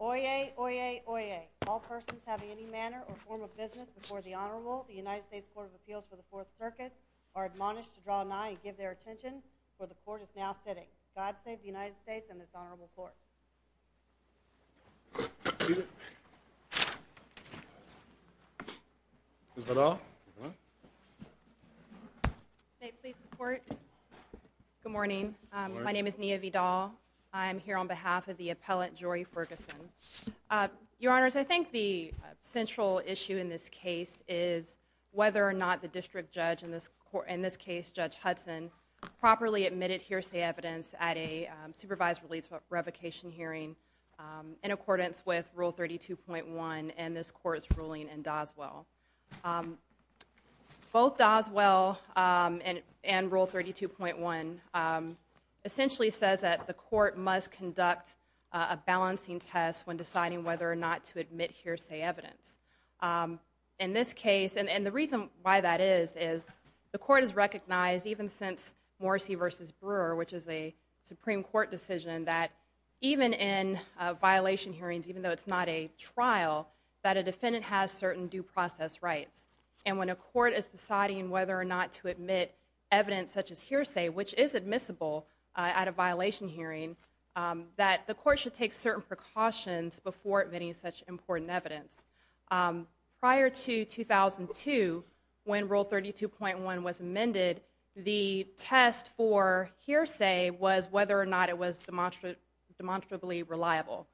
Oyez, oyez, oyez. All persons having any manner or form of business before the Honorable the United States Court of Appeals for the Fourth Circuit are admonished to draw nigh and give their attention, for the Court is now sitting. God save the United States and this Honorable Court. Ms. Vidal? Good morning. My name is Nia Vidal. I'm here on behalf of the appellant Jori Ferguson. Your Honors, I think the central issue in this case is whether or not the district judge in this court, in this case Judge Hudson, properly admitted hearsay evidence at a supervised release revocation hearing in accordance with Rule 32.1 in this court's ruling in Doswell. Both Doswell and Rule 32.1 essentially says that the court must conduct a balancing test when deciding whether or not to admit hearsay evidence. In this case, and the reason why that is, is the court has recognized even since Morrissey v. Brewer, which is a Supreme Court decision, that even in violation hearings, even though it's not a trial, that a defendant has certain due process rights. And when a court is deciding whether or not to admit evidence such as hearsay, which is admissible at a violation hearing, that the court should take certain precautions before admitting such important evidence. Prior to 2002, when Rule 32.1 was amended, the test for hearsay was whether or not it was demonstrably reliable.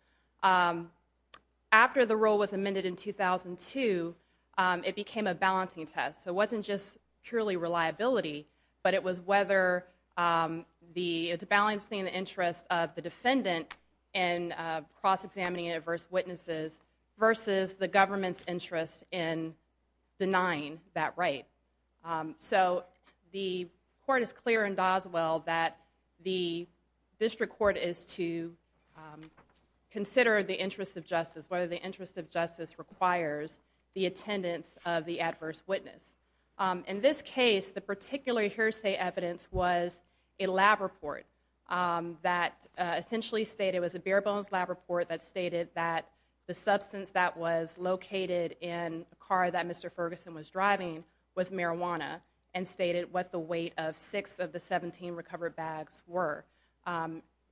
After the rule was amended in 2002, it became a balancing test. It wasn't just purely reliability, but it was whether the balancing of the interest of the defendant in cross-examining adverse So the court is clear in Doswell that the district court is to consider the interest of justice, whether the interest of justice requires the attendance of the adverse witness. In this case, the particular hearsay evidence was a lab report that essentially stated, it was a bare-bones lab report that stated that the substance that was located in a car that Mr. Ferguson was driving was marijuana, and stated what the weight of six of the seventeen recovered bags were.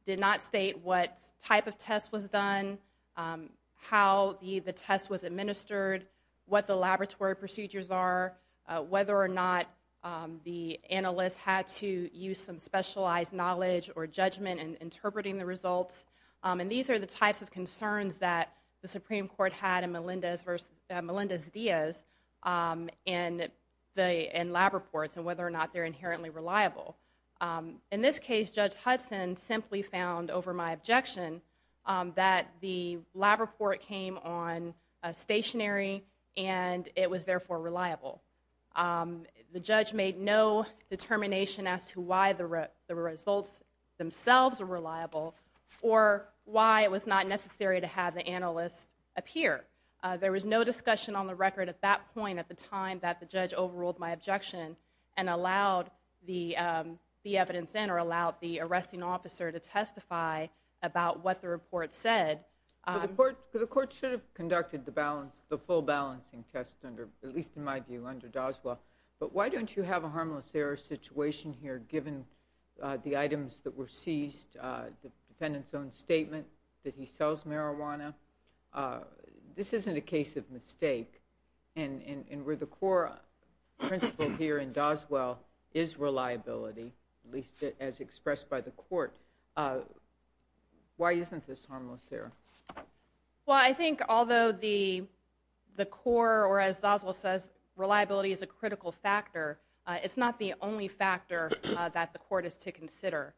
Did not state what type of test was done, how the test was administered, what the laboratory procedures are, whether or not the analyst had to use some specialized knowledge or judgment in interpreting the results. And these are the types of concerns that the Supreme Court had in Melendez-Diaz in lab reports and whether or not they're inherently reliable. In this case, Judge Hudson simply found, over my objection, that the lab report came on stationary and it was therefore reliable. The judge made no determination as to why the results themselves were reliable or why it was not necessary to have the analyst appear. There was no discussion on the record at that point at the time that the judge overruled my objection and allowed the evidence in or allowed the arresting officer to testify about what the report said. The court should have conducted the full balancing test, at least in my view, under Doswell. But why don't you have a harmless error situation here, given the items that were seized, the defendant's own statement that he sells marijuana? This isn't a case of mistake. And where the core principle here in Doswell is reliability, at least as expressed by the court, why isn't this harmless error? Well, I think although the core, or as Doswell says, reliability is a critical factor, it's not the only factor that the court is to consider.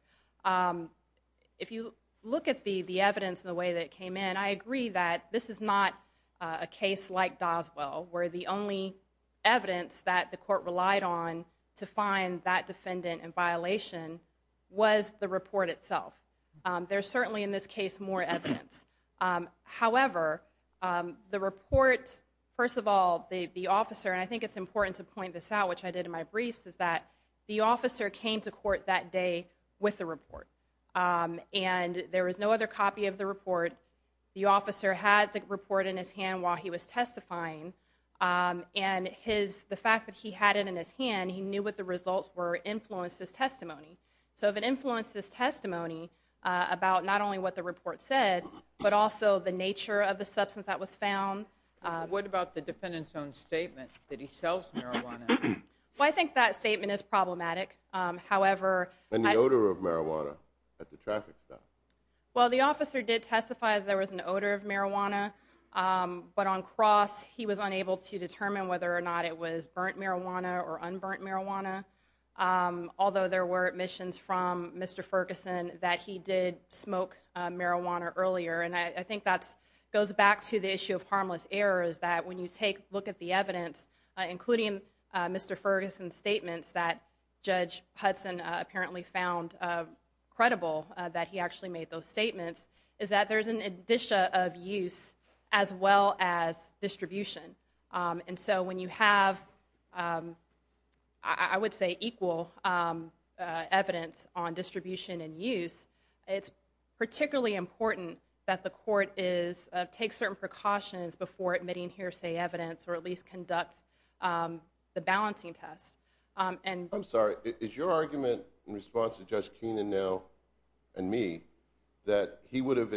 If you look at the evidence and the way that it came in, I agree that this is not a case like Doswell, where the only evidence that the court relied on to find that defendant in violation was the report itself. There's certainly in this case more evidence. However, the report, first of all, the officer, and I think it's important to point this out, which I did in my briefs, is that the officer came to court that day with the report. And there was no other copy of the report. The officer had the report in his hand while he was testifying. And the fact that he had it in his hand, he knew what the results were influenced his testimony. So if it influenced his testimony about not only what the report said, but also the nature of the substance that was found. What about the defendant's own statement that he sells marijuana? Well, I think that statement is problematic. However... And the odor of marijuana at the traffic stop. Well, the officer did testify that there was an odor of marijuana. But on cross, he was unable to determine whether or not it was burnt marijuana or unburnt marijuana. Although there were admissions from Mr. Ferguson that he did smoke marijuana earlier. And I think that goes back to the issue of harmless errors. That when you take a look at the evidence, including Mr. Ferguson's statements that Judge Hudson apparently found credible, that he actually made those statements, is that there's an addition of use as well as distribution. And so when you have, I would say, equal evidence on distribution and use, it's particularly important that the court takes certain precautions before admitting hearsay evidence or at least conducts the balancing test. I'm sorry, is your argument in response to Judge Keenan now, and me, that he would have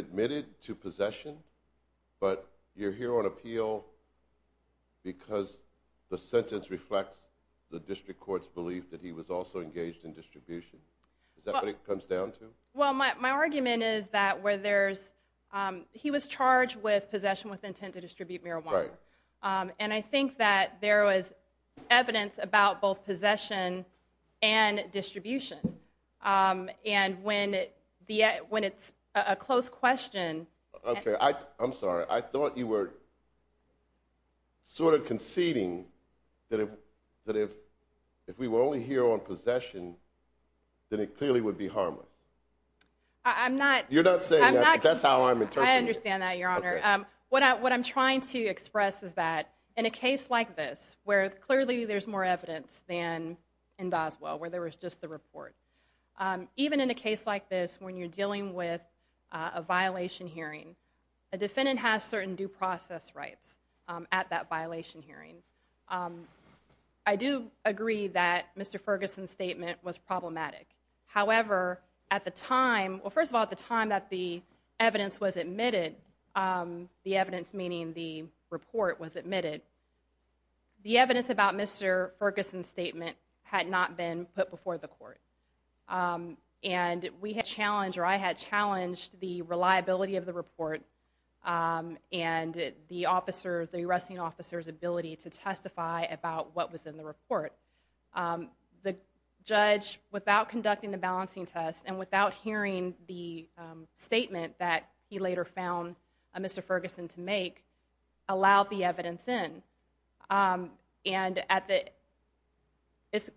appealed because the sentence reflects the district court's belief that he was also engaged in distribution? Is that what it comes down to? Well, my argument is that where there's... He was charged with possession with intent to distribute marijuana. And I think that there was evidence about both possession and distribution. And when it's a close question... Okay, I'm sorry. I thought you were sort of conceding that if we were only here on possession, then it clearly would be harmless. I'm not... You're not saying that. That's how I'm interpreting it. I understand that, Your Honor. What I'm trying to express is that in a case like this, where clearly there's more evidence than in Doswell, where there was just the report. Even in a defendant has certain due process rights at that violation hearing. I do agree that Mr. Ferguson's statement was problematic. However, at the time... Well, first of all, at the time that the evidence was admitted, the evidence meaning the report was admitted, the evidence about Mr. Ferguson's statement had not been put before the court. And we had challenged or I had challenged the reliability of the report and the arresting officer's ability to testify about what was in the report. The judge, without conducting the balancing test and without hearing the statement that he later found Mr. Ferguson to make, allowed the evidence in. And at the... It's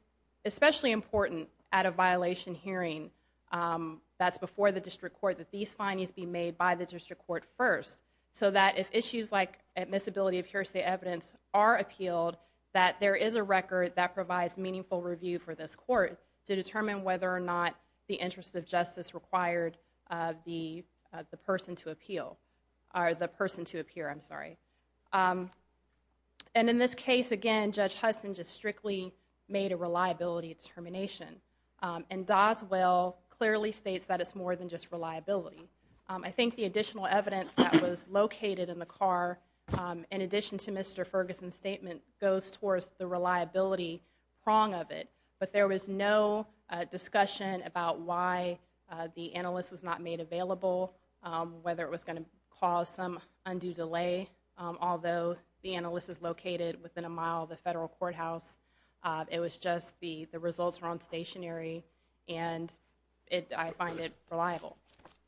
especially important at a violation hearing that's before the district court that these findings be made by the district court first so that if issues like admissibility of hearsay evidence are appealed, that there is a record that provides meaningful review for this court to determine whether or not the interest of justice required the person to appeal or the person to appear. I'm sorry. And in this case, again, Judge Hudson just strictly made a reliability determination. And Doswell clearly states that it's more than just reliability. I think the additional evidence that was located in the car, in addition to Mr. Ferguson's statement, goes towards the reliability prong of it. But there was no discussion about why the analyst was not made available, whether it was going to cause some undue delay, although the analyst is a revolutionary, and I find it reliable.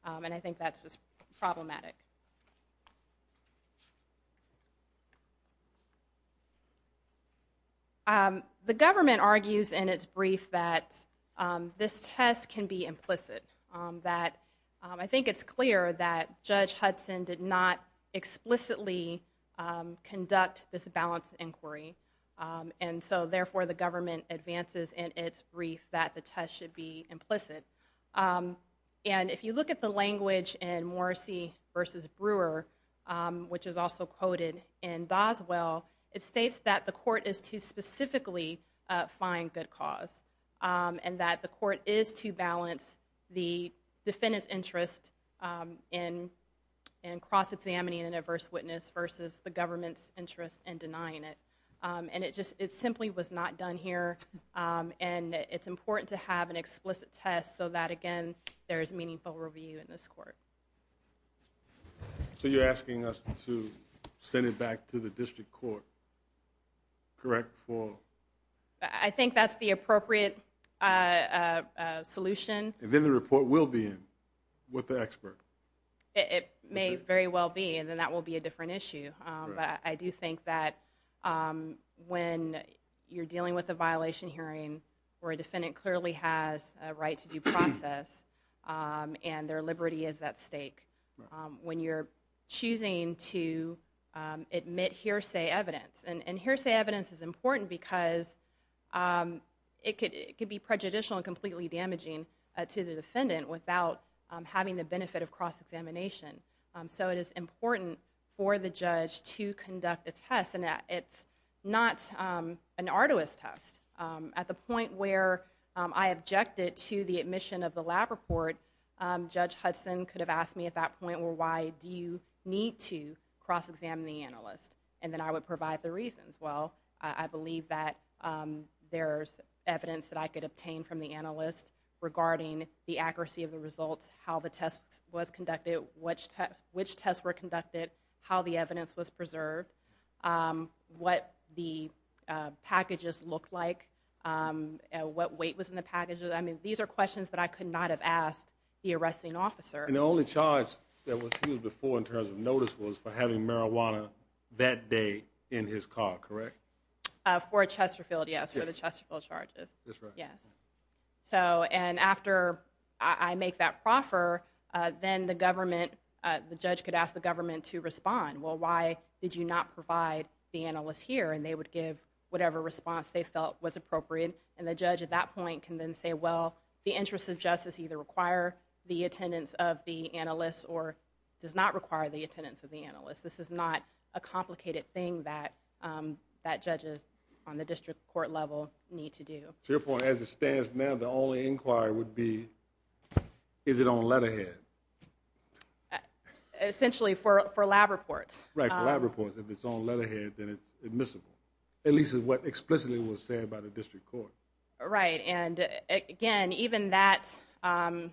And I think that's just problematic. The government argues in its brief that this test can be implicit, that I think it's clear that Judge Hudson did not explicitly conduct this balance inquiry, and so therefore the test should be implicit. And if you look at the language in Morrissey v. Brewer, which is also quoted in Doswell, it states that the court is to specifically find good cause, and that the court is to balance the defendant's interest in cross-examining an adverse witness versus the government's interest in denying it. And it simply was not done here, and it's important to have an explicit test so that, again, there's meaningful review in this court. So you're asking us to send it back to the district court, correct? I think that's the appropriate solution. And then the report will be in with the expert? It may very well be, and then that will be a different issue. But I do think that when you're dealing with a violation hearing where a defendant clearly has a right to due process and their liberty is at stake, when you're choosing to admit hearsay evidence, and hearsay evidence is important because it could be prejudicial and completely damaging to the defendant without having the benefit of cross-examination. So it is important for the judge to conduct the test, and it's not an arduous test. At the point where I objected to the admission of the lab report, Judge Hudson could have asked me at that point, well, why do you need to cross-examine the analyst? And then I would provide the reasons. Well, I believe that there's evidence that I could obtain from the analyst regarding the accuracy of the report, what the packages looked like, what weight was in the packages. I mean, these are questions that I could not have asked the arresting officer. And the only charge that was used before in terms of notice was for having marijuana that day in his car, correct? For Chesterfield, yes, for the Chesterfield charges. That's right. And after I make that proffer, then the government, the judge could ask the government to respond. Well, why did you not provide the analyst here? And they would give whatever response they felt was appropriate. And the judge at that point can then say, well, the interests of justice either require the attendance of the analyst or does not require the attendance of the analyst. This is not a complicated thing that judges on the district court level need to do. To your point, as it stands now, the only inquiry would be, is it on letterhead? Essentially, for lab reports. Right, for lab reports. If it's on letterhead, then it's admissible, at least is what explicitly was said by the district court. Right. And again, even that, in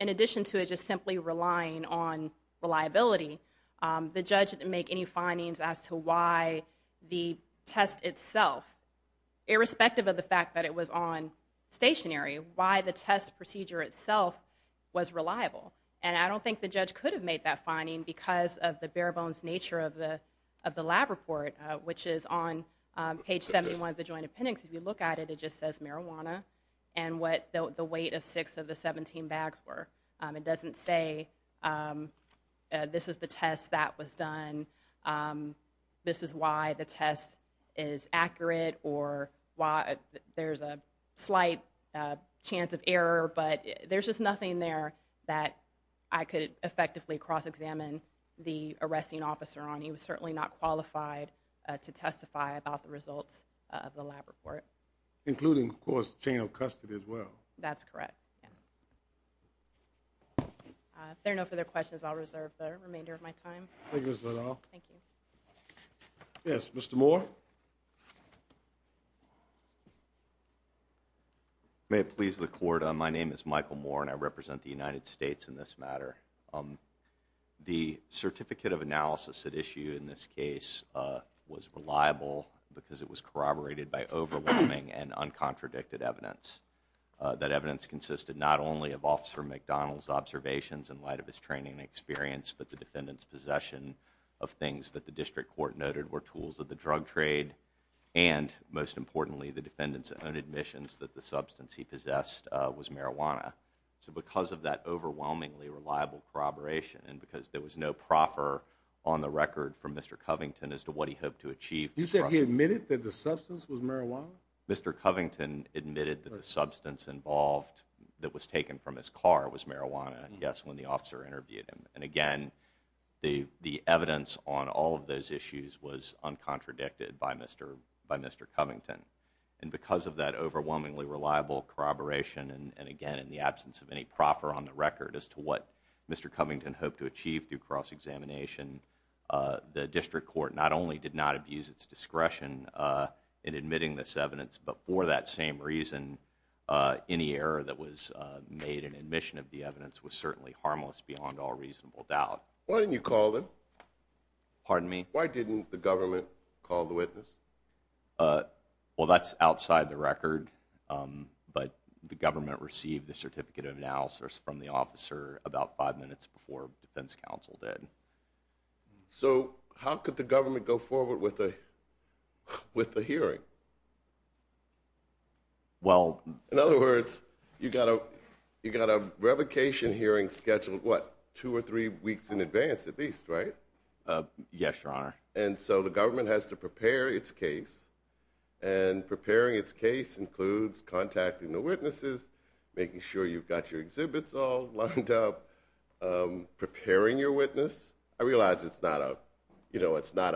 addition to it just simply relying on reliability, the judge didn't make any findings as to why the test itself, irrespective of the fact that it was on stationary, why the test procedure itself was reliable. And I don't think the judge could have made that finding because of the bare bones nature of the lab report, which is on page 71 of the joint appendix. If you look at it, it just says marijuana and what the weight of six of the 17 bags were. It doesn't say this is the test that was done, this is why the test is accurate, or why there's a slight chance of error, but there's just nothing there that I could effectively cross-examine the arresting officer on. He was certainly not qualified to testify about the results of the lab report. Including, of course, chain of custody as well. That's correct. If there are no further questions, I'll reserve the remainder of my time. Thank you, Ms. Liddell. Thank you. Yes, Mr. Moore. May it please the Court, my name is Michael Moore and I represent the United States in this matter. The certificate of analysis at issue in this case was reliable because it was corroborated by overwhelming and uncontradicted evidence. That evidence consisted not only of Officer McDonald's observations in light of his training and experience, but the defendant's possession of things that the District Court noted were tools of the drug trade, and most importantly, the defendant's own admissions that the substance he possessed was marijuana. Because of that overwhelmingly reliable corroboration, and because there was no proffer on the record from Mr. Covington as to what he hoped to achieve. You said he admitted that the substance was marijuana? Mr. Covington admitted that the substance involved, that was taken from his car, was marijuana. The evidence on all of those issues was uncontradicted by Mr. Covington. And because of that overwhelmingly reliable corroboration, and again, in the absence of any proffer on the record as to what Mr. Covington hoped to achieve through cross-examination, the District Court not only did not abuse its discretion in admitting this evidence, but for that same reason, any error that was made in admission of the evidence was certainly harmless beyond all reasonable doubt. Why didn't you call him? Pardon me? Why didn't the government call the witness? Well, that's outside the record, but the government received the certificate of analysis from the officer about five minutes before the defense counsel did. So how could the government go forward with the hearing? Well... In other words, you've got a revocation hearing scheduled, what, two or three weeks in advance at least, right? Yes, Your Honor. And so the government has to prepare its case, and preparing its case includes contacting the witnesses, making sure you've got your exhibits all lined up, preparing your witness. I realize it's not a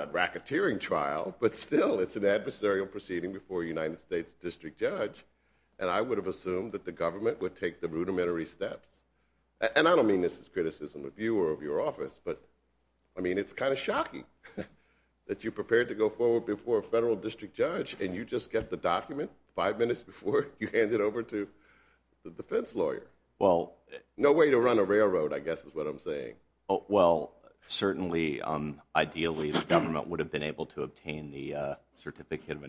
racketeering trial, but still, it's an adversarial proceeding before a United States district judge, and I would have assumed that the government would take the rudimentary steps. And I don't mean this as criticism of you or of your office, but, I mean, it's kind of shocking that you prepared to go forward before a federal district judge, and you just get the document five minutes before you hand it over to the defense lawyer. Well... No way to run a railroad, I guess, is what I'm saying. Well, certainly, ideally, the government would have been able to obtain the certificate of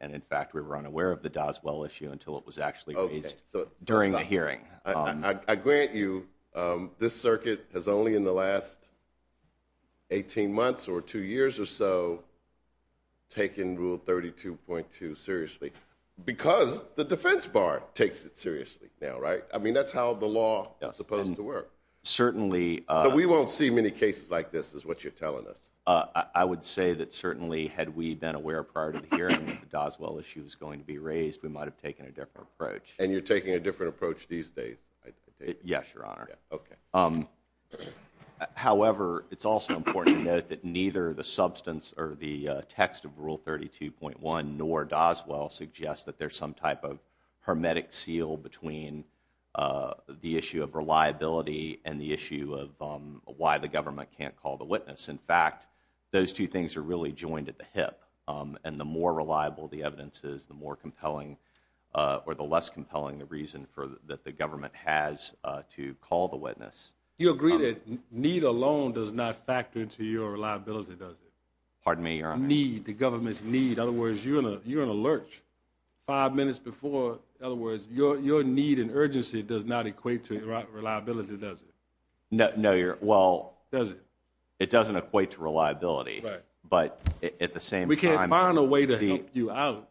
And in fact, we were unaware of the Doswell issue until it was actually raised during the hearing. I grant you, this circuit has only in the last 18 months, or two years or so, taken Rule 32.2 seriously, because the defense bar takes it seriously now, right? I mean, that's how the law is supposed to work. Certainly... But we won't see many cases like this, is what you're telling us. I would say that certainly, had we been aware prior to the hearing that the Doswell issue was going to be raised, we might have taken a different approach. And you're taking a different approach these days, I take it? Yes, Your Honor. Okay. However, it's also important to note that neither the substance or the text of Rule 32.1, nor Doswell, suggests that there's some type of hermetic seal between the issue of reliability and the issue of why the government can't call the witness. In fact, those two things are really joined at the hip. And the more reliable the evidence is, the more compelling, or the less compelling the reason that the government has to call the witness. You agree that need alone does not factor into your reliability, does it? Pardon me, Your Honor? Need, the government's need. In other words, you're in a lurch. Five minutes before, in other words, your need and urgency does not equate to reliability, does it? No, Your Honor. Well... It doesn't equate to reliability. Right. But at the same time... We can't find a way to help you out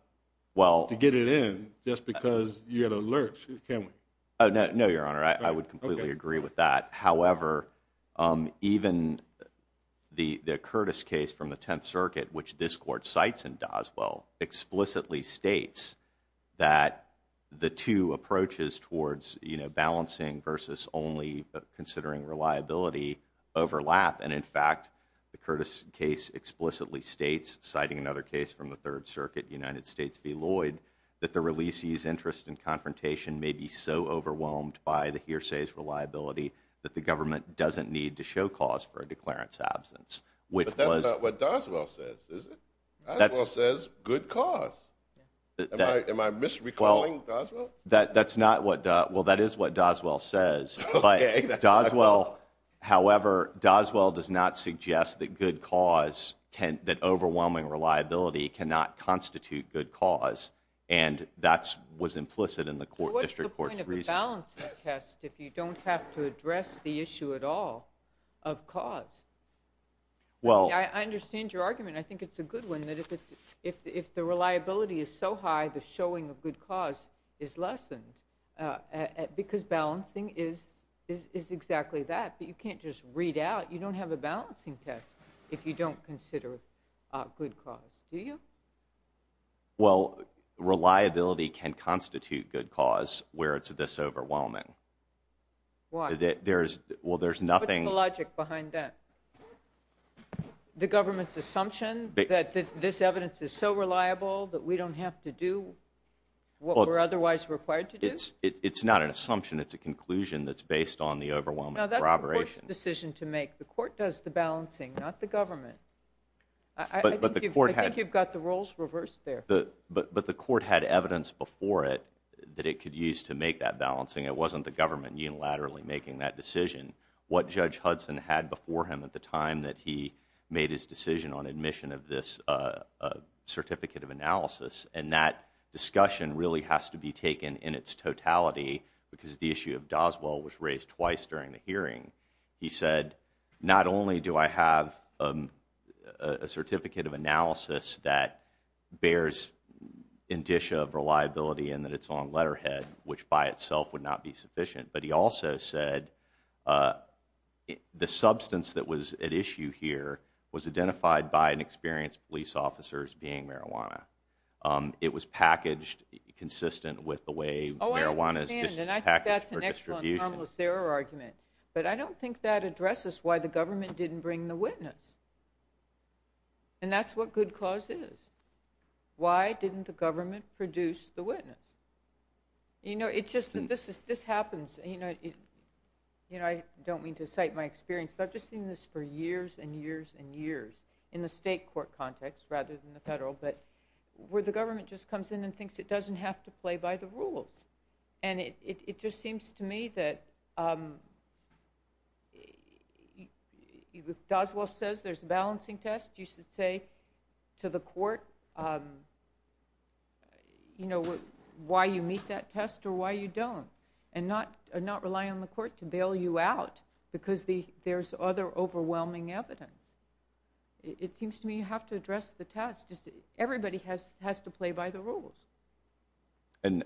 to get it in, just because you're in a lurch, can we? No, Your Honor. I would completely agree with that. However, even the Curtis case from the Tenth Circuit, which this Court cites in Doswell, explicitly states that the two approaches towards balancing versus only considering reliability overlap. And in fact, the Curtis case explicitly states, citing another case from the Third Circuit, United States v. Lloyd, that the releasee's interest in confrontation may be so overwhelmed by the hearsay's reliability that the government doesn't need to show cause for a declarant's absence. Which was... But that's not what Doswell says, is it? That's... Doswell says, good cause. Am I misrecalling Doswell? That's not what... Well, that is what Doswell says. Okay. Doswell, however, Doswell does not suggest that good cause can... That overwhelming reliability cannot constitute good cause. And that was implicit in the District Court's reasoning. But what's the point of a balancing test if you don't have to address the issue at all of cause? Well... I understand your argument. I think it's a good one, that if the reliability is so high, the showing of good cause is lessened. Because balancing is exactly that, but you can't just read out. You don't have a balancing test if you don't consider good cause, do you? Well, reliability can constitute good cause where it's this overwhelming. Why? There's... Well, there's nothing... What's the logic behind that? The government's assumption that this evidence is so reliable that we don't have to do what we're otherwise required to do? It's not an assumption. It's a conclusion that's based on the overwhelming corroboration. No, that's the Court's decision to make. The Court does the balancing, not the government. I think you've got the roles reversed there. But the Court had evidence before it that it could use to make that balancing. It wasn't the government unilaterally making that decision. What Judge Hudson had before him at the time that he made his decision on admission of this Certificate of Analysis, and that discussion really has to be taken in its totality, because the issue of Doswell was raised twice during the hearing. He said, not only do I have a Certificate of Analysis that bears indicia of reliability and that it's on letterhead, which by itself would not be sufficient, but he also said that the substance that was at issue here was identified by an experienced police officer as being marijuana. It was packaged consistent with the way marijuana is packaged for distribution. Oh, I understand. And I think that's an excellent, harmless error argument. But I don't think that addresses why the government didn't bring the witness. And that's what good cause is. Why didn't the government produce the witness? You know, it's just that this happens, and I don't mean to cite my experience, but I've just seen this for years and years and years in the state court context rather than the federal, but where the government just comes in and thinks it doesn't have to play by the rules. And it just seems to me that if Doswell says there's a balancing test, you should say to the court why you meet that test or why you don't and not rely on the court to bail you out because there's other overwhelming evidence. It seems to me you have to address the test. Everybody has to play by the rules. And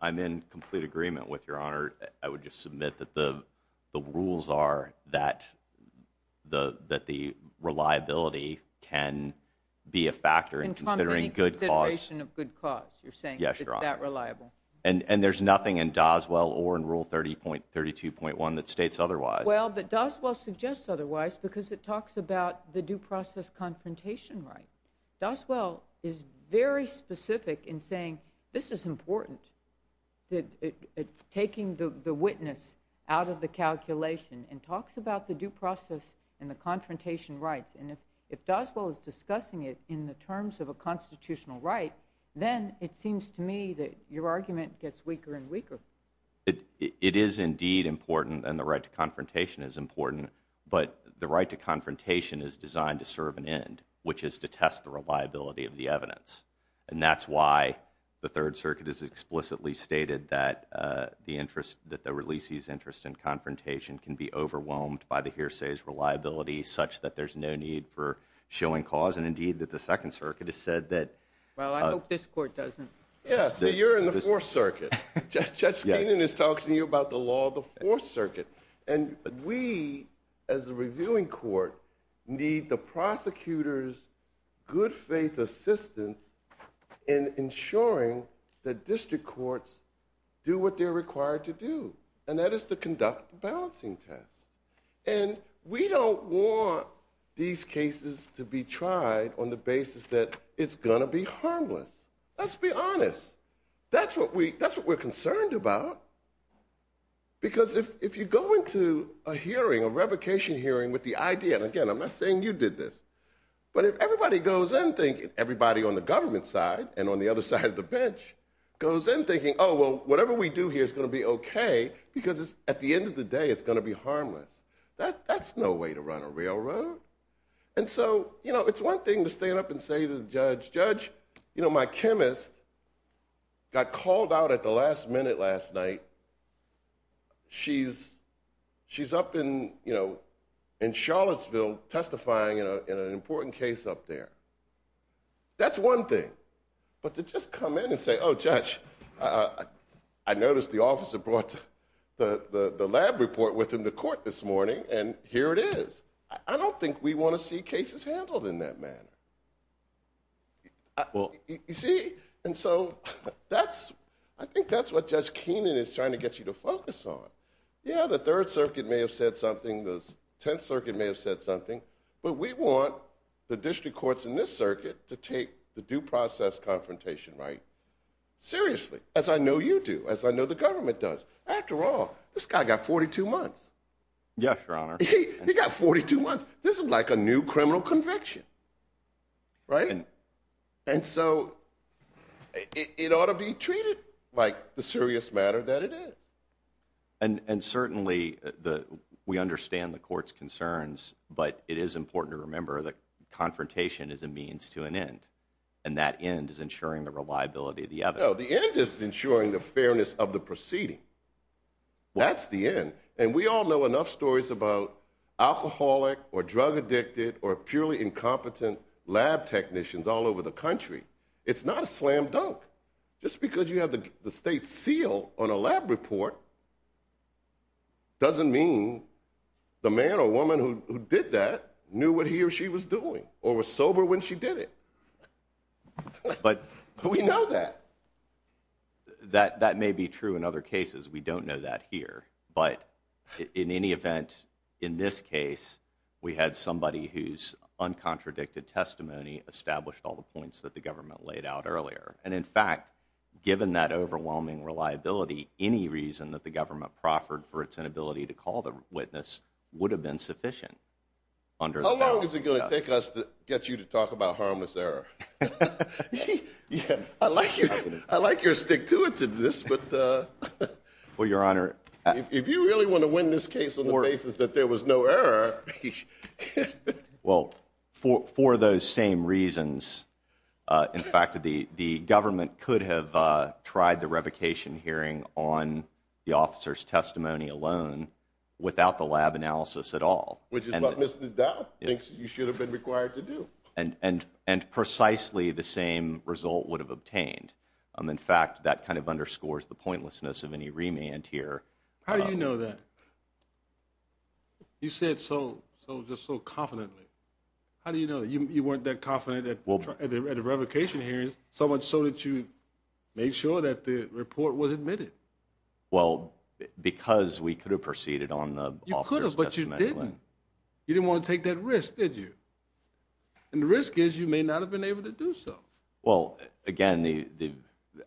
I'm in complete agreement with Your Honor. I would just submit that the rules are that the reliability can be a factor in considering good cause. In company consideration of good cause, you're saying? Yes, Your Honor. It's that reliable. And there's nothing in Doswell or in Rule 30.32.1 that states otherwise. Well, but Doswell suggests otherwise because it talks about the due process confrontation right. Doswell is very specific in saying this is important, taking the witness out of the calculation and talks about the due process and the confrontation rights. And if Doswell is discussing it in the terms of a constitutional right, then it seems to me that your argument gets weaker and weaker. It is indeed important and the right to confrontation is important, but the right to confrontation is designed to serve an end, which is to test the reliability of the evidence. And that's why the Third Circuit has explicitly stated that the releasee's interest in confrontation can be overwhelmed by the hearsay's reliability such that there's no need for showing cause and indeed that the Second Circuit has said that. Well, I hope this Court doesn't. Yeah, so you're in the Fourth Circuit. Judge Skenan is talking to you about the law of the Fourth Circuit. And we, as a reviewing court, need the prosecutor's good faith assistance in ensuring that district courts do what they're required to do, and that is to conduct the balancing tests. And we don't want these cases to be tried on the basis that it's going to be harmless. Let's be honest. That's what we're concerned about. Because if you go into a hearing, a revocation hearing, with the idea, and again, I'm not saying you did this, but if everybody goes in thinking, everybody on the government side and on the other side of the bench, goes in thinking, oh, well, whatever we do here is going to be okay, because at the end of the day, it's going to be harmless. That's no way to run a railroad. And so it's one thing to stand up and say to the judge, judge, my chemist got called out at the last minute last night. She's up in Charlottesville testifying in an important case up there. That's one thing. But to just come in and say, oh, judge, I noticed the officer brought the lab report with him to court this morning, and here it is. I don't think we want to see cases handled in that manner. You see? And so that's, I think that's what Judge Keenan is trying to get you to focus on. Yeah, the Third Circuit may have said something, the Tenth Circuit may have said something, but we want the district courts in this circuit to take the due process confrontation right seriously, as I know you do, as I know the government does. Yes, Your Honor. He got 42 months. This is like a new criminal conviction, right? And so it ought to be treated like the serious matter that it is. And certainly, we understand the court's concerns, but it is important to remember that confrontation is a means to an end, and that end is ensuring the reliability of the evidence. No, the end is ensuring the fairness of the proceeding. That's the end. And we all know enough stories about alcoholic or drug addicted or purely incompetent lab technicians all over the country. It's not a slam dunk. Just because you have the state seal on a lab report, doesn't mean the man or woman who did that knew what he or she was doing, or was sober when she did it. But we know that. That may be true in other cases. We don't know that here. But in any event, in this case, we had somebody whose uncontradicted testimony established all the points that the government laid out earlier. And in fact, given that overwhelming reliability, any reason that the government proffered for its inability to call the witness would have been sufficient. How long is it going to take us to get you to talk about harmless error? Yeah, I like your stick-to-it-ness, but if you really want to win this case on the basis that there was no error. Well, for those same reasons, in fact, the government could have tried the revocation hearing on the officer's testimony alone without the lab analysis at all. Which is what Mr. Dow thinks you should have been required to do. And precisely the same result would have obtained. In fact, that kind of underscores the pointlessness of any remand here. How do you know that? You said so confidently. How do you know that? You weren't that confident at the revocation hearings, so much so that you made sure that the report was admitted. Well, because we could have proceeded on the officer's testimony alone. You could have, but you didn't. You didn't want to take that risk, did you? And the risk is, you may not have been able to do so. Well, again,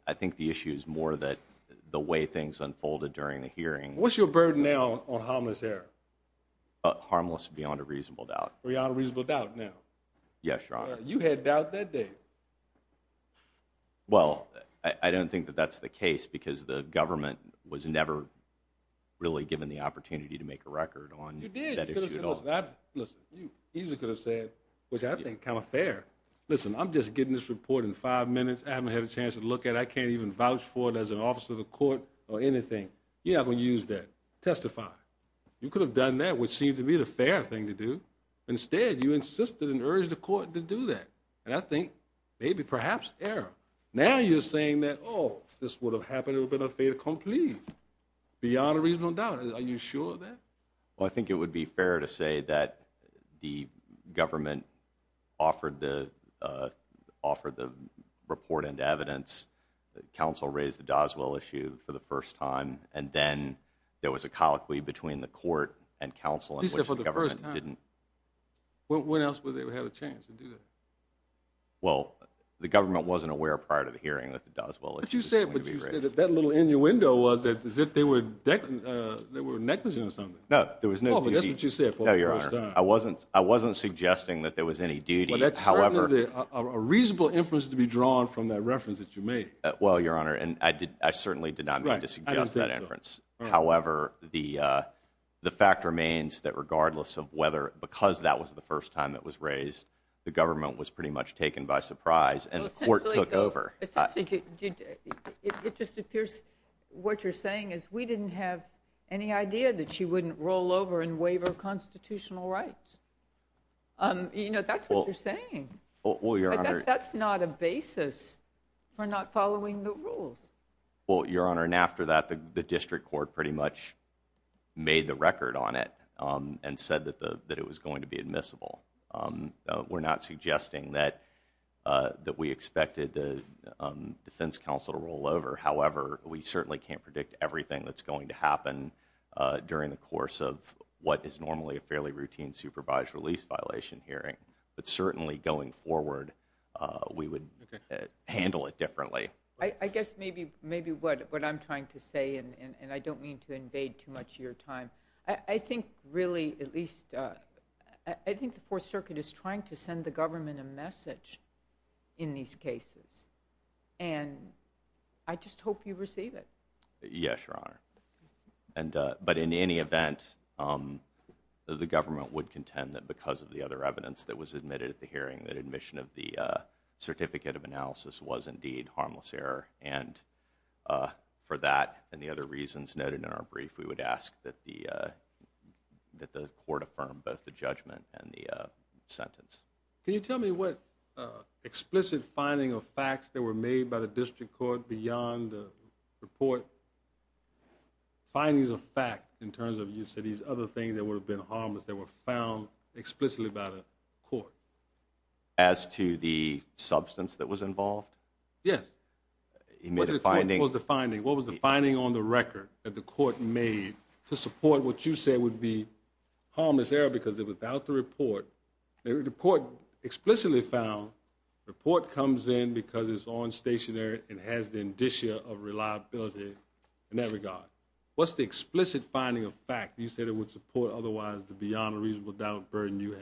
I think the issue is more that the way things unfolded during the hearing. What's your burden now on harmless error? Harmless beyond a reasonable doubt. Beyond a reasonable doubt now? Yes, Your Honor. You had doubt that day. Well, I don't think that that's the case, because the government was never really given the opportunity to make a record on that issue at all. You could have said, which I think is kind of fair, listen, I'm just getting this report in five minutes. I haven't had a chance to look at it. I can't even vouch for it as an officer of the court or anything. You're not going to use that. Testify. You could have done that, which seemed to be the fair thing to do. Instead, you insisted and urged the court to do that, and I think maybe perhaps error. Now you're saying that, oh, this would have happened, it would have been a fait accompli. Beyond a reasonable doubt. Are you sure of that? Well, I think it would be fair to say that the government offered the report and evidence. Counsel raised the Doswell issue for the first time, and then there was a colloquy between the court and counsel in which the government didn't. He said for the first time. When else would they have had a chance to do that? Well, the government wasn't aware prior to the hearing that the Doswell issue was going to be raised. But you said that that little innuendo was that as if they were negligent or something. No, there was no duty. Oh, but that's what you said for the first time. No, Your Honor. I wasn't suggesting that there was any duty. Well, that's certainly a reasonable inference to be drawn from that reference that you made. Well, Your Honor, I certainly did not mean to suggest that inference. However, the fact remains that regardless of whether, because that was the first time it was raised, the government was pretty much taken by surprise, and the court took over. It just appears what you're saying is we didn't have any idea that she wouldn't roll over and waiver constitutional rights. You know, that's what you're saying. That's not a basis for not following the rules. Well, Your Honor, and after that, the district court pretty much made the record on it and said that it was going to be admissible. We're not suggesting that we expected the defense counsel to roll over. However, we certainly can't predict everything that's going to happen during the course of what is normally a fairly routine supervised release violation hearing. But certainly going forward, we would handle it differently. I guess maybe what I'm trying to say, and I don't mean to invade too much of your time, I think really at least, I think the Fourth Circuit is trying to send the government a message in these cases, and I just hope you receive it. Yes, Your Honor. But in any event, the government would contend that because of the other evidence that was admitted at the hearing, that admission of the certificate of analysis was indeed harmless error. And for that and the other reasons noted in our brief, we would ask that the court affirm both the judgment and the sentence. Can you tell me what explicit finding of facts that were made by the district court beyond the report, findings of fact in terms of use of these other things that would have been harmless that were found explicitly by the court? As to the substance that was involved? Yes. What was the finding? What was the finding on the record that the court made to support what you said would be harmless error because without the report, the court explicitly found the report comes in because it's on stationary and has the indicia of reliability in that regard. What's the explicit finding of fact? You said it would support otherwise the beyond reasonable doubt burden you have.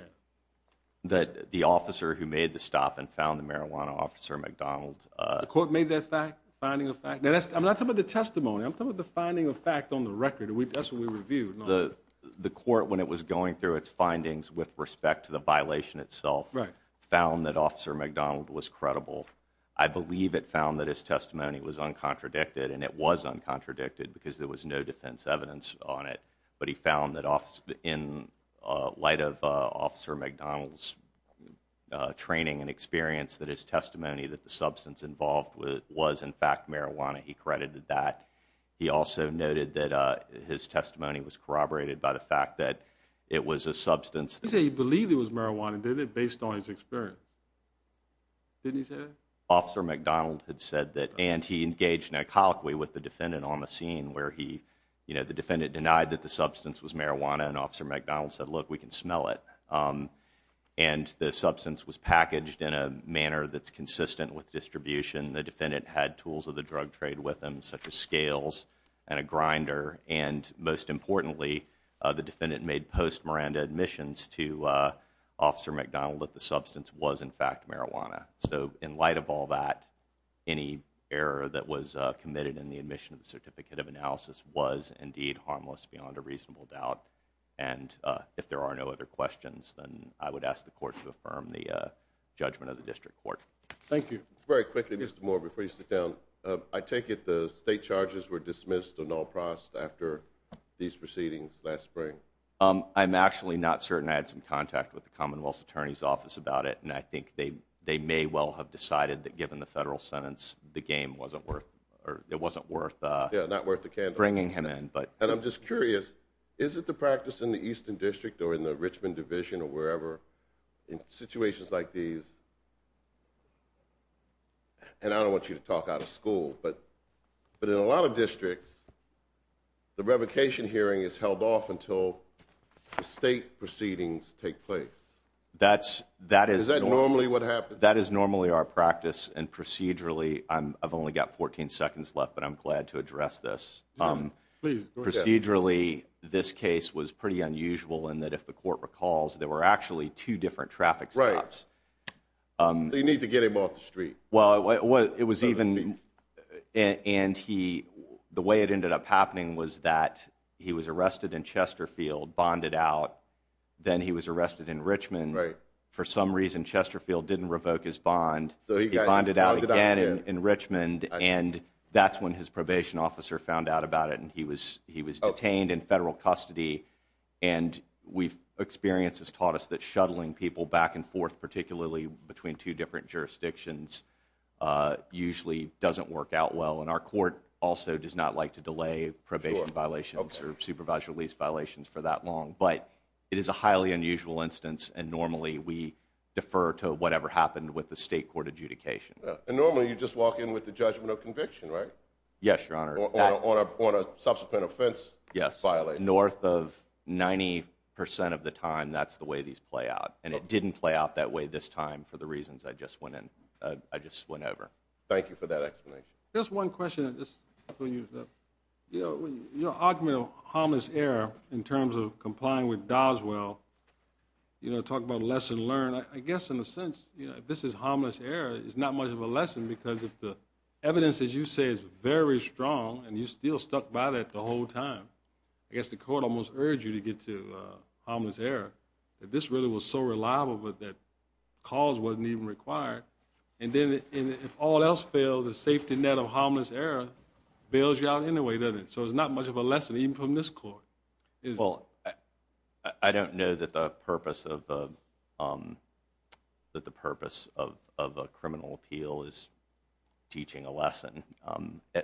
That the officer who made the stop and found the marijuana officer, McDonald's, uh, court made that fact finding of fact that I'm not talking about the testimony. I'm talking about the finding of fact on the record. That's what we reviewed. The court, when it was going through its findings with respect to the violation itself, found that officer McDonald was credible. I believe it found that his testimony was uncontradicted and it was uncontradicted because there was no defense evidence on it. But he found that office in light of officer McDonald's training and experience that his testimony that the substance involved with was in fact marijuana. He credited that. He also noted that his testimony was corroborated by the fact that it was a substance. He said he believed it was marijuana, didn't it? Based on his experience. Didn't he say that? Officer McDonald had said that and he engaged in a colloquy with the defendant on the scene where he, you know, the defendant denied that the substance was marijuana and officer McDonald said, look, we can smell it. And the substance was packaged in a manner that's consistent with distribution. The defendant had tools of the drug trade with them such as scales and a grinder. And most importantly, the defendant made post Miranda admissions to officer McDonald that the substance was in fact marijuana. So in light of all that, any error that was committed in the admission of the certificate of analysis was indeed harmless beyond a reasonable doubt. And if there are no other questions, then I would ask the court to affirm the judgment of the district court. Thank you. Very quickly, Mr. Moore, before you sit down, I take it the state charges were dismissed or no process after these proceedings last spring? I'm actually not certain. I had some contact with the Commonwealth attorney's office about it. And I think they may well have decided that given the federal sentence, the game wasn't worth or it wasn't worth. Yeah, not worth the can bring him in. But I'm just curious, is it the practice in the eastern district or in the Richmond division or wherever in situations like these? And I don't want you to talk out of school, but but in a lot of districts, the revocation hearing is held off until the state proceedings take place. That's that is normally what happened. That is normally our practice. And procedurally, I've only got 14 seconds left, but I'm glad to address this. Procedurally, this case was pretty unusual in that if the court recalls there were actually two different traffic lights, they need to get him off the street. Well, it was even and he the way it ended up happening was that he was arrested in Chesterfield, bonded out. Then he was arrested in Richmond. Right. For some reason, Chesterfield didn't revoke his bond. So he bonded out again in Richmond. And that's when his probation officer found out about it. And he was he was detained in federal custody. And we've experience has taught us that shuttling people back and forth, particularly between two different jurisdictions, usually doesn't work out well. And our court also does not like to delay probation violations or supervised release violations for that long. But it is a highly unusual instance. And normally we defer to whatever happened with the state court adjudication. And normally you just walk in with the judgment of conviction, right? Yes, your honor. On a subsequent offense. Yes. Violate north of 90 percent of the time. That's the way these play out. And it didn't play out that way this time for the reasons I just went in. I just went over. Thank you for that explanation. Just one question. You know, your argument of harmless error in terms of complying with Doswell. You know, talk about lesson learned, I guess, in a sense, you know, this is harmless error. It's not much of a lesson because of the evidence, as you say, is very strong. And you still stuck by that the whole time. I guess the court almost urged you to get to harmless error that this really was so reliable that cause wasn't even required. And then if all else fails, the safety net of harmless error bails you out anyway, doesn't it? So it's not much of a lesson even from this court. Well, I don't know that the purpose of a criminal appeal is teaching a lesson.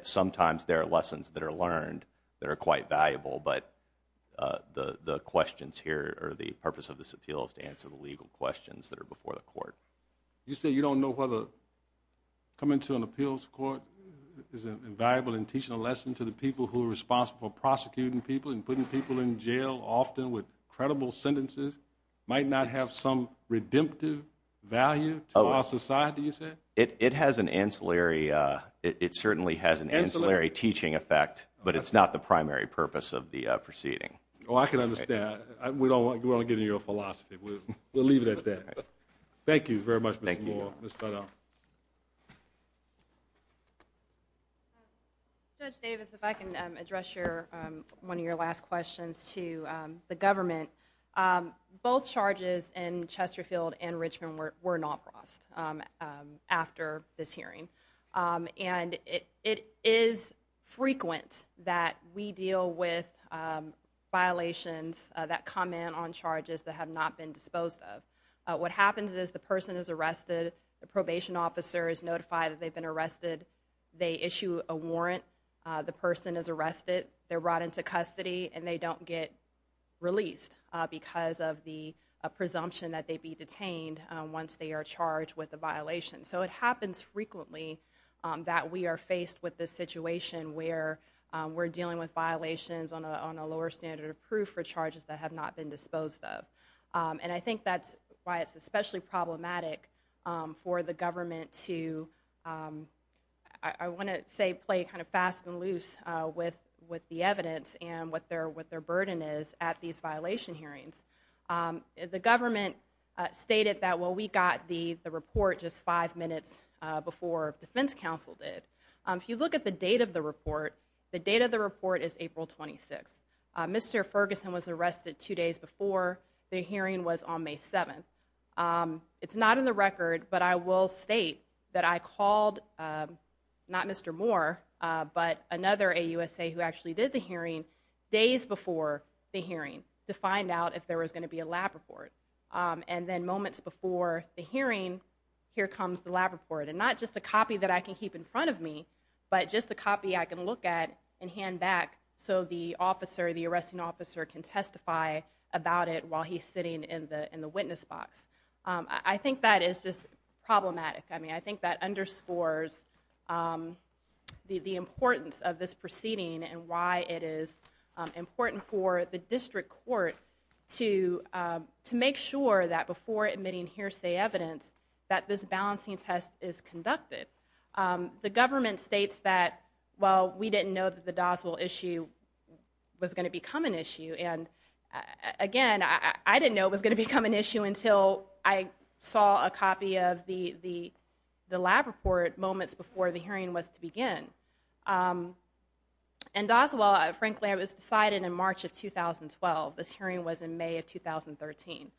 Sometimes there are lessons that are learned that are quite valuable. But the questions here or the purpose of this appeal is to answer the legal questions that are before the court. You say you don't know whether coming to an appeals court is invaluable in teaching a lesson. People in jail often with credible sentences might not have some redemptive value to our society, you said? It has an ancillary, it certainly has an ancillary teaching effect, but it's not the primary purpose of the proceeding. Oh, I can understand. We don't want to get into your philosophy. We'll leave it at that. Thank you very much, Mr. Moore. Mr. Davis, if I can address your one of your last questions to the government, both charges in Chesterfield and Richmond were not lost after this hearing. And it is frequent that we deal with violations that comment on charges that have not been disposed of. What happens is the person is arrested, the probation officer is notified that they've been arrested, they issue a warrant, the person is arrested, they're brought into custody and they don't get released because of the presumption that they'd be detained once they are charged with a violation. So it happens frequently that we are faced with this situation where we're dealing with violations on a lower standard of proof for charges that have not been disposed of. And I think that's why it's especially problematic for the government to, I want to say, play kind of fast and loose with the evidence and what their burden is at these violation hearings. The government stated that, well, we got the report just five minutes before defense counsel did. If you look at the date of the report, the date of the report is April 26th. Mr. Ferguson was arrested two days before the hearing was on May 7th. It's not in the record, but I will state that I called, not Mr. Moore, but another AUSA who actually did the hearing days before the hearing to find out if there was going to be a lab report. And then moments before the hearing, here comes the lab report. And not just a copy that I can keep in front of me, but just a copy I can look at and hand back so the officer, the arresting officer can testify about it while he's sitting in the witness box. I think that is just problematic. I mean, I think that underscores the importance of this proceeding and why it is important for the district court to make sure that before admitting hearsay evidence that this balancing test is conducted. The government states that, well, we didn't know that the Doswell issue was going to become an issue. And again, I didn't know it was going to become an issue until I saw a copy of the lab report moments before the hearing was to begin. And Doswell, frankly, it was decided in March of 2012. This hearing was in May of 2013.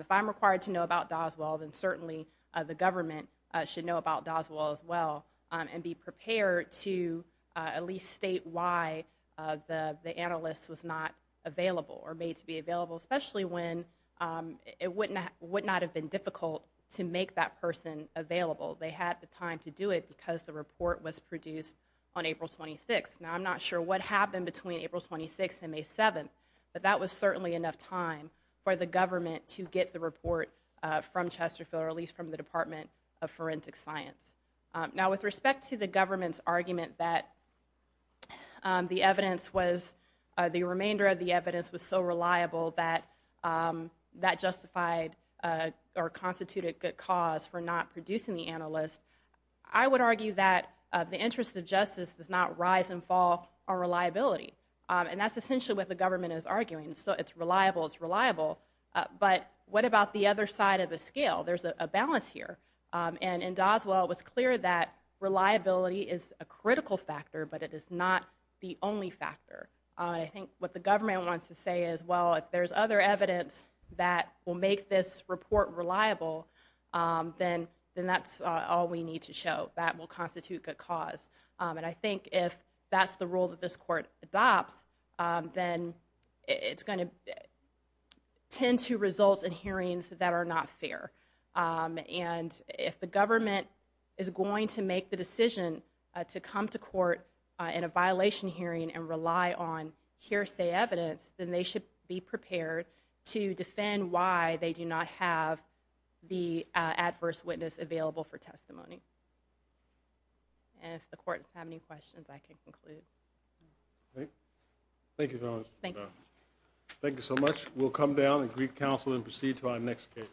If I'm required to know about Doswell, then certainly the government should know about Doswell as well and be prepared to at least state why the analyst was not available or made to be available, especially when it would not have been difficult to make that person available. They had the time to do it because the report was produced on April 26th. Now, I'm not sure what happened between April 26th and May 7th, but that was certainly enough time for the government to get the report from Chesterfield or at least from the Department of Forensic Science. Now, with respect to the government's argument that the evidence was, the remainder of the evidence was so reliable that that justified or constituted good cause for not producing the analyst, I would argue that the interest of justice does not rise and fall on reliability. And that's essentially what the government is arguing. So it's reliable. It's reliable. But what about the other side of the scale? There's a balance here. And in Doswell, it was clear that reliability is a critical factor, but it is not the only factor. And I think what the government wants to say is, well, if there's other evidence that will make this report reliable, then that's all we need to show. That will constitute good cause. And I think if that's the rule that this court adopts, then it's going to tend to result in hearings that are not fair. And if the government is going to make the decision to come to court in a violation hearing and rely on hearsay evidence, then they should be prepared to defend why they do not have the adverse witness available for testimony. And if the court has any questions, I can conclude. Thank you so much. We'll come down and greet counsel and proceed to our next case.